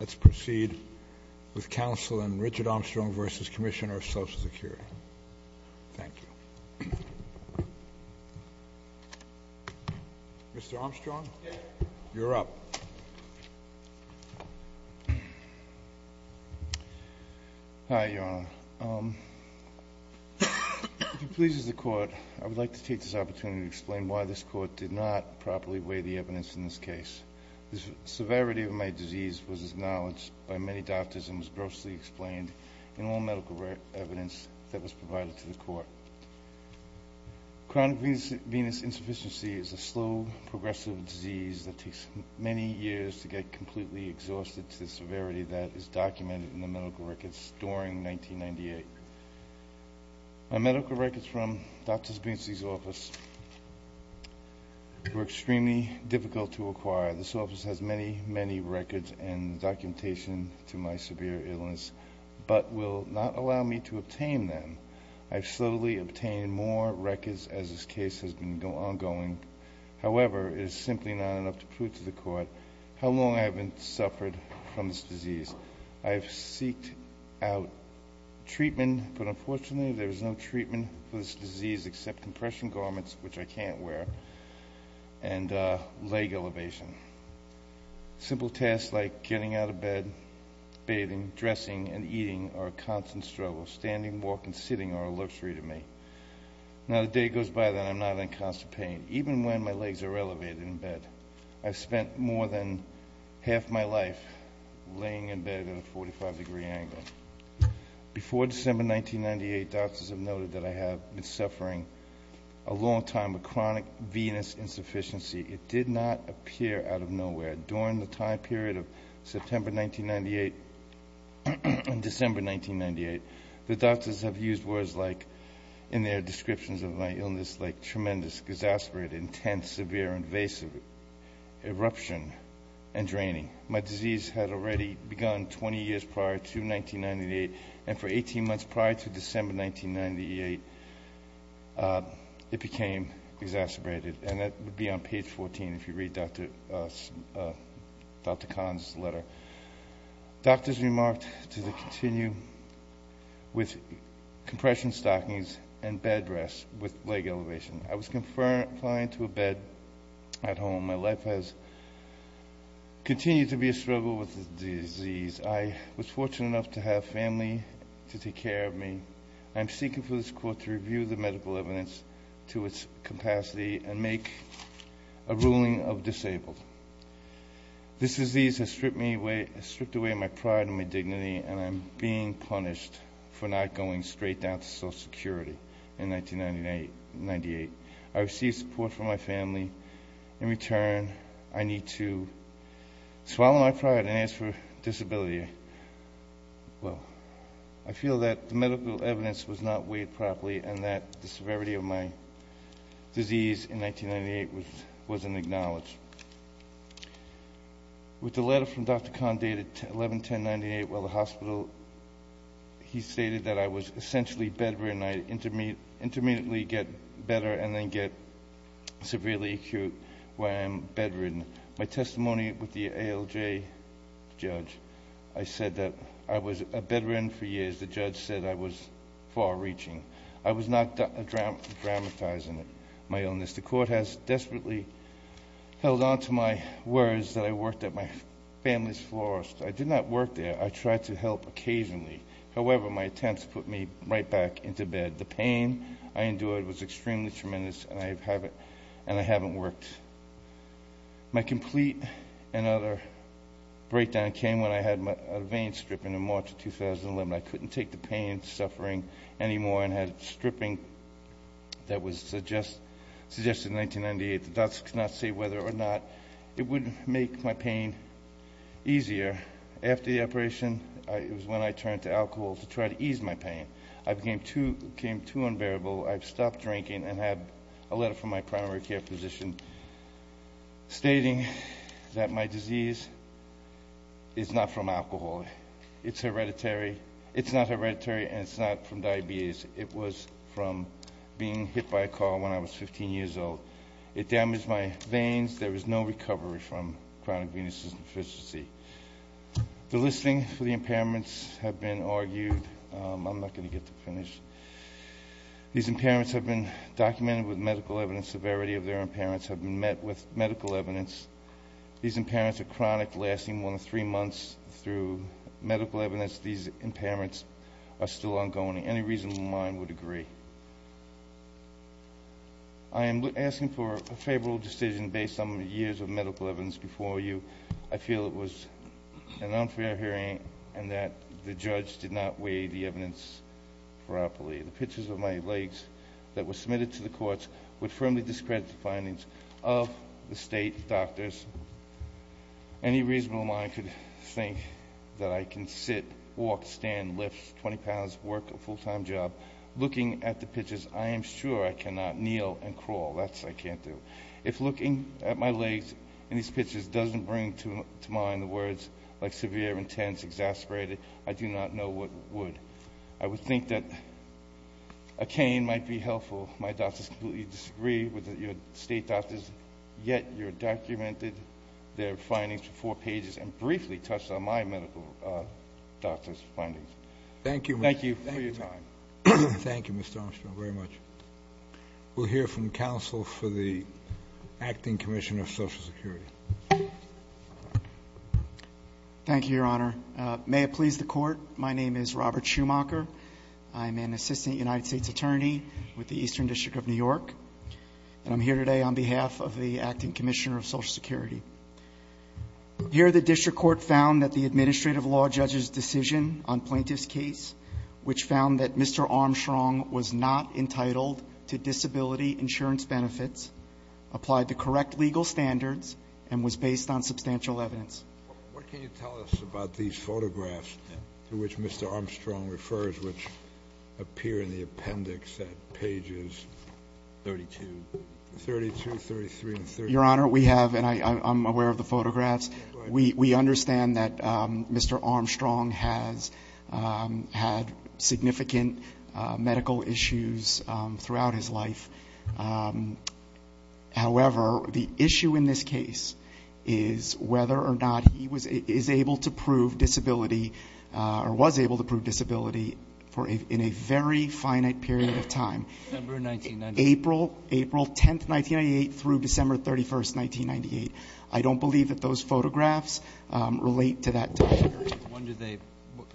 Let's proceed with counsel in Richard Armstrong v. Commissioner of Social Security. Thank you. Mr. Armstrong, you're up. Hi, Your Honor. If it pleases the Court, I would like to take this opportunity to explain why this Court did not properly weigh the evidence in this case. The severity of my disease was acknowledged by many doctors and was grossly explained in all medical evidence that was provided to the Court. Chronic venous insufficiency is a slow, progressive disease that takes many years to get completely exhausted to the severity that is documented in the medical records during 1998. My medical records from Dr. Spinski's office were extremely difficult to acquire. This office has many, many records and documentation to my severe illness but will not allow me to obtain them. I have slowly obtained more records as this case has been ongoing. However, it is simply not enough to prove to the Court how long I have suffered from this disease. I have seeked out treatment, but unfortunately there is no treatment for this disease except compression garments, which I can't wear, and leg elevation. Simple tasks like getting out of bed, bathing, dressing, and eating are a constant struggle. Standing, walking, and sitting are a luxury to me. Not a day goes by that I'm not in constant pain, even when my legs are elevated in bed. I've spent more than half my life laying in bed at a 45-degree angle. Before December 1998, doctors have noted that I have been suffering a long time of chronic venous insufficiency. It did not appear out of nowhere. During the time period of September 1998 and December 1998, the doctors have used words like, in their descriptions of my illness, like tremendous, exasperated, intense, severe, invasive, eruption, and draining. My disease had already begun 20 years prior to 1998, and for 18 months prior to December 1998, it became exacerbated. And that would be on page 14 if you read Dr. Kahn's letter. Doctors remarked to continue with compression stockings and bed rest with leg elevation. I was confined to a bed at home. My life has continued to be a struggle with this disease. I was fortunate enough to have family to take care of me. I'm seeking for this court to review the medical evidence to its capacity and make a ruling of disabled. This disease has stripped away my pride and my dignity, and I'm being punished for not going straight down to Social Security in 1998. I received support from my family. In return, I need to swallow my pride and ask for disability. Well, I feel that the medical evidence was not weighed properly and that the severity of my disease in 1998 was unacknowledged. With the letter from Dr. Kahn dated 11-10-98, while at the hospital he stated that I was essentially bedridden. I intermittently get better and then get severely acute where I am bedridden. My testimony with the ALJ judge, I said that I was a bedridden for years. The judge said I was far-reaching. I was not dramatizing my illness. The court has desperately held on to my words that I worked at my family's florist. I did not work there. I tried to help occasionally. However, my attempts put me right back into bed. The pain I endured was extremely tremendous, and I haven't worked. My complete and utter breakdown came when I had a vein strip in March of 2011. I couldn't take the pain and suffering anymore and had stripping that was suggested in 1998. The doctors could not say whether or not it would make my pain easier. After the operation, it was when I turned to alcohol to try to ease my pain. I became too unbearable. I stopped drinking and had a letter from my primary care physician stating that my disease is not from alcohol. It's not hereditary and it's not from diabetes. It was from being hit by a car when I was 15 years old. It damaged my veins. There was no recovery from chronic venous deficiency. The listing for the impairments have been argued. I'm not going to get to the finish. These impairments have been documented with medical evidence. Severity of their impairments have been met with medical evidence. These impairments are chronic, lasting more than three months. Through medical evidence, these impairments are still ongoing. Any reasonable mind would agree. I am asking for a favorable decision based on the years of medical evidence before you. I feel it was an unfair hearing and that the judge did not weigh the evidence properly. The pictures of my legs that were submitted to the courts would firmly discredit the findings of the state doctors. Any reasonable mind could think that I can sit, walk, stand, lift 20 pounds, work a full-time job looking at the pictures. I am sure I cannot kneel and crawl. That's what I can't do. If looking at my legs in these pictures doesn't bring to mind the words like severe, intense, exasperated, I do not know what would. I would think that a cane might be helpful. My doctors completely disagree with your state doctors, yet you documented their findings for four pages and briefly touched on my medical doctor's findings. Thank you for your time. Thank you, Mr. Armstrong, very much. We'll hear from counsel for the Acting Commissioner of Social Security. Thank you, Your Honor. May it please the Court, my name is Robert Schumacher. I'm an assistant United States attorney with the Eastern District of New York, and I'm here today on behalf of the Acting Commissioner of Social Security. Here the district court found that the administrative law judge's decision on plaintiff's case, which found that Mr. Armstrong was not entitled to disability insurance benefits, applied the correct legal standards, and was based on substantial evidence. What can you tell us about these photographs to which Mr. Armstrong refers, which appear in the appendix at pages 32. Your Honor, we have, and I'm aware of the photographs, we understand that Mr. Armstrong has had significant medical issues throughout his life. However, the issue in this case is whether or not he is able to prove disability or was able to prove disability in a very finite period of time. April 10, 1998 through December 31, 1998. I don't believe that those photographs relate to that time period.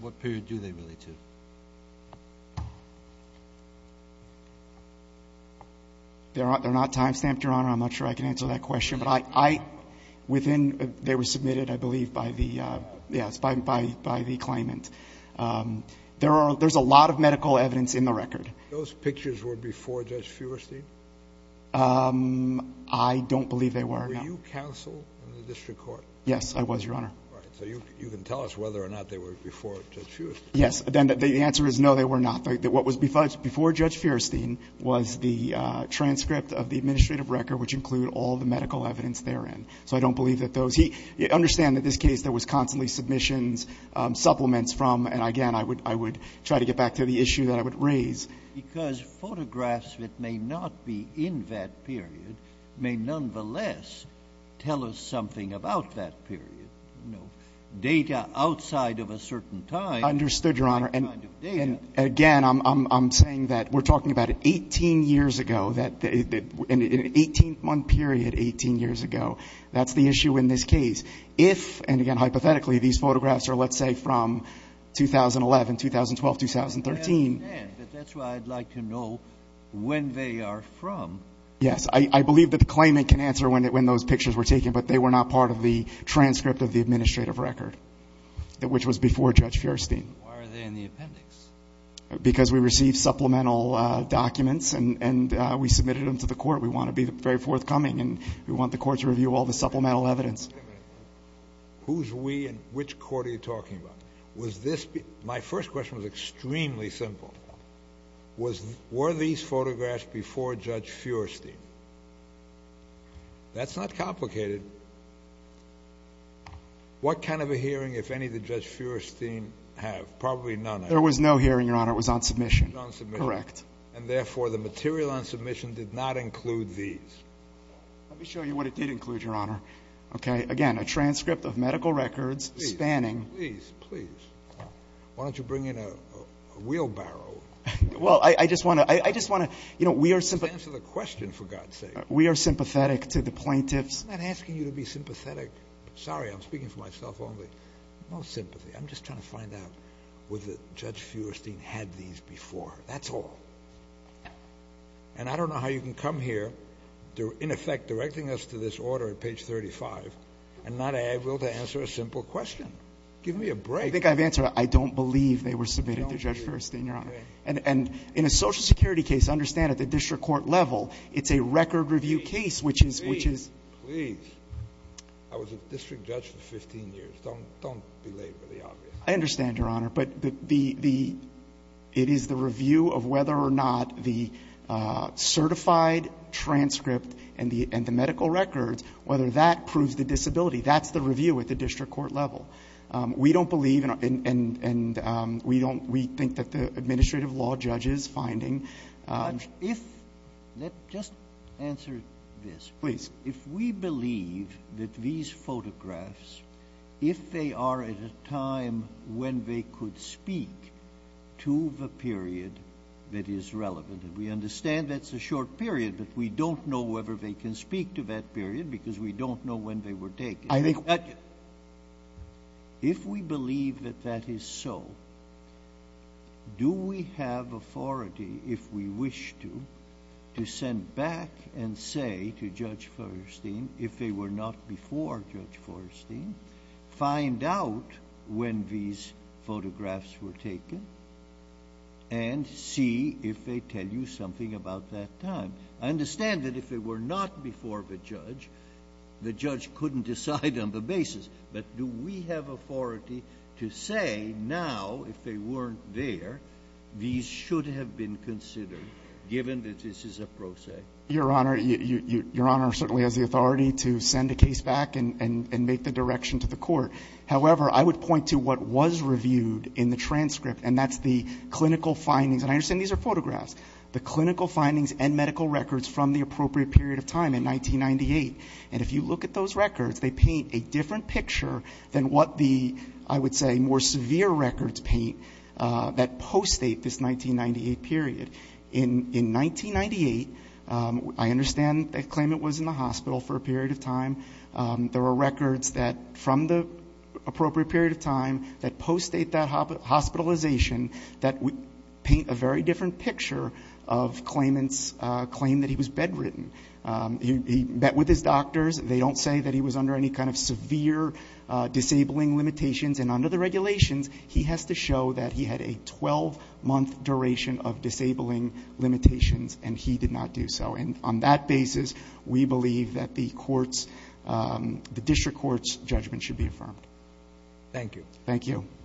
What period do they relate to? They're not time stamped, Your Honor. I'm not sure I can answer that question. They were submitted, I believe, by the claimant. There's a lot of medical evidence in the record. Those pictures were before Judge Feuerstein? I don't believe they were. Were you counsel in the district court? Yes, I was, Your Honor. All right. So you can tell us whether or not they were before Judge Feuerstein. Yes. The answer is no, they were not. What was before Judge Feuerstein was the transcript of the administrative record, which include all the medical evidence therein. So I don't believe that those. Understand that in this case there was constantly submissions, supplements from, and again, I would try to get back to the issue that I would raise. Because photographs that may not be in that period may nonetheless tell us something about that period. Data outside of a certain time. Understood, Your Honor. And again, I'm saying that we're talking about 18 years ago. In an 18-month period, 18 years ago. That's the issue in this case. If, and again, hypothetically, these photographs are, let's say, from 2011, 2012, 2013. I understand. But that's why I'd like to know when they are from. Yes. I believe that the claimant can answer when those pictures were taken. But they were not part of the transcript of the administrative record, which was before Judge Feuerstein. Why are they in the appendix? Because we received supplemental documents and we submitted them to the court. We want to be very forthcoming, and we want the court to review all the supplemental evidence. Wait a minute. Who's we and which court are you talking about? Was this, my first question was extremely simple. Were these photographs before Judge Feuerstein? That's not complicated. What kind of a hearing, if any, did Judge Feuerstein have? Probably none. There was no hearing, Your Honor. It was on submission. It was on submission. Correct. And, therefore, the material on submission did not include these. Let me show you what it did include, Your Honor. Okay. Again, a transcript of medical records spanning. Please, please, please. Why don't you bring in a wheelbarrow? Well, I just want to, you know, we are sympathetic. Just answer the question, for God's sake. We are sympathetic to the plaintiffs. I'm not asking you to be sympathetic. Sorry, I'm speaking for myself only. No sympathy. I'm just trying to find out whether Judge Feuerstein had these before. That's all. And I don't know how you can come here, in effect, directing us to this order at page 35 and not able to answer a simple question. Give me a break. I think I've answered it. I don't believe they were submitted to Judge Feuerstein, Your Honor. And in a Social Security case, understand at the district court level, it's a record review case, which is. Please, please. I was a district judge for 15 years. Don't belabor the obvious. I understand, Your Honor. But the, the, it is the review of whether or not the certified transcript and the medical records, whether that proves the disability. That's the review at the district court level. We don't believe, and we don't, we think that the administrative law judge is finding. But if, just answer this. Please. If we believe that these photographs, if they are at a time when they could speak to the period that is relevant, and we understand that's a short period, but we don't know whether they can speak to that period because we don't know when they were taken. I think. If we believe that that is so, do we have authority, if we wish to, to send back and say to Judge Forrestine, if they were not before Judge Forrestine, find out when these photographs were taken and see if they tell you something about that time. I understand that if they were not before the judge, the judge couldn't decide on the basis. But do we have authority to say now, if they weren't there, these should have been considered, given that this is a pro se? Your Honor, your Honor certainly has the authority to send a case back and make the direction to the court. However, I would point to what was reviewed in the transcript, and that's the clinical findings. And I understand these are photographs. The clinical findings and medical records from the appropriate period of time in 1998. And if you look at those records, they paint a different picture than what the, I would say, more severe records paint that post-date this 1998 period. In 1998, I understand the claimant was in the hospital for a period of time. There were records that from the appropriate period of time that post-date that hospitalization that would paint a very different picture of claimant's claim that he was bedridden. He met with his doctors. They don't say that he was under any kind of severe disabling limitations. And under the regulations, he has to show that he had a 12-month duration of disabling limitations, and he did not do so. And on that basis, we believe that the courts, the district court's judgment should be affirmed. Thank you. Thank you.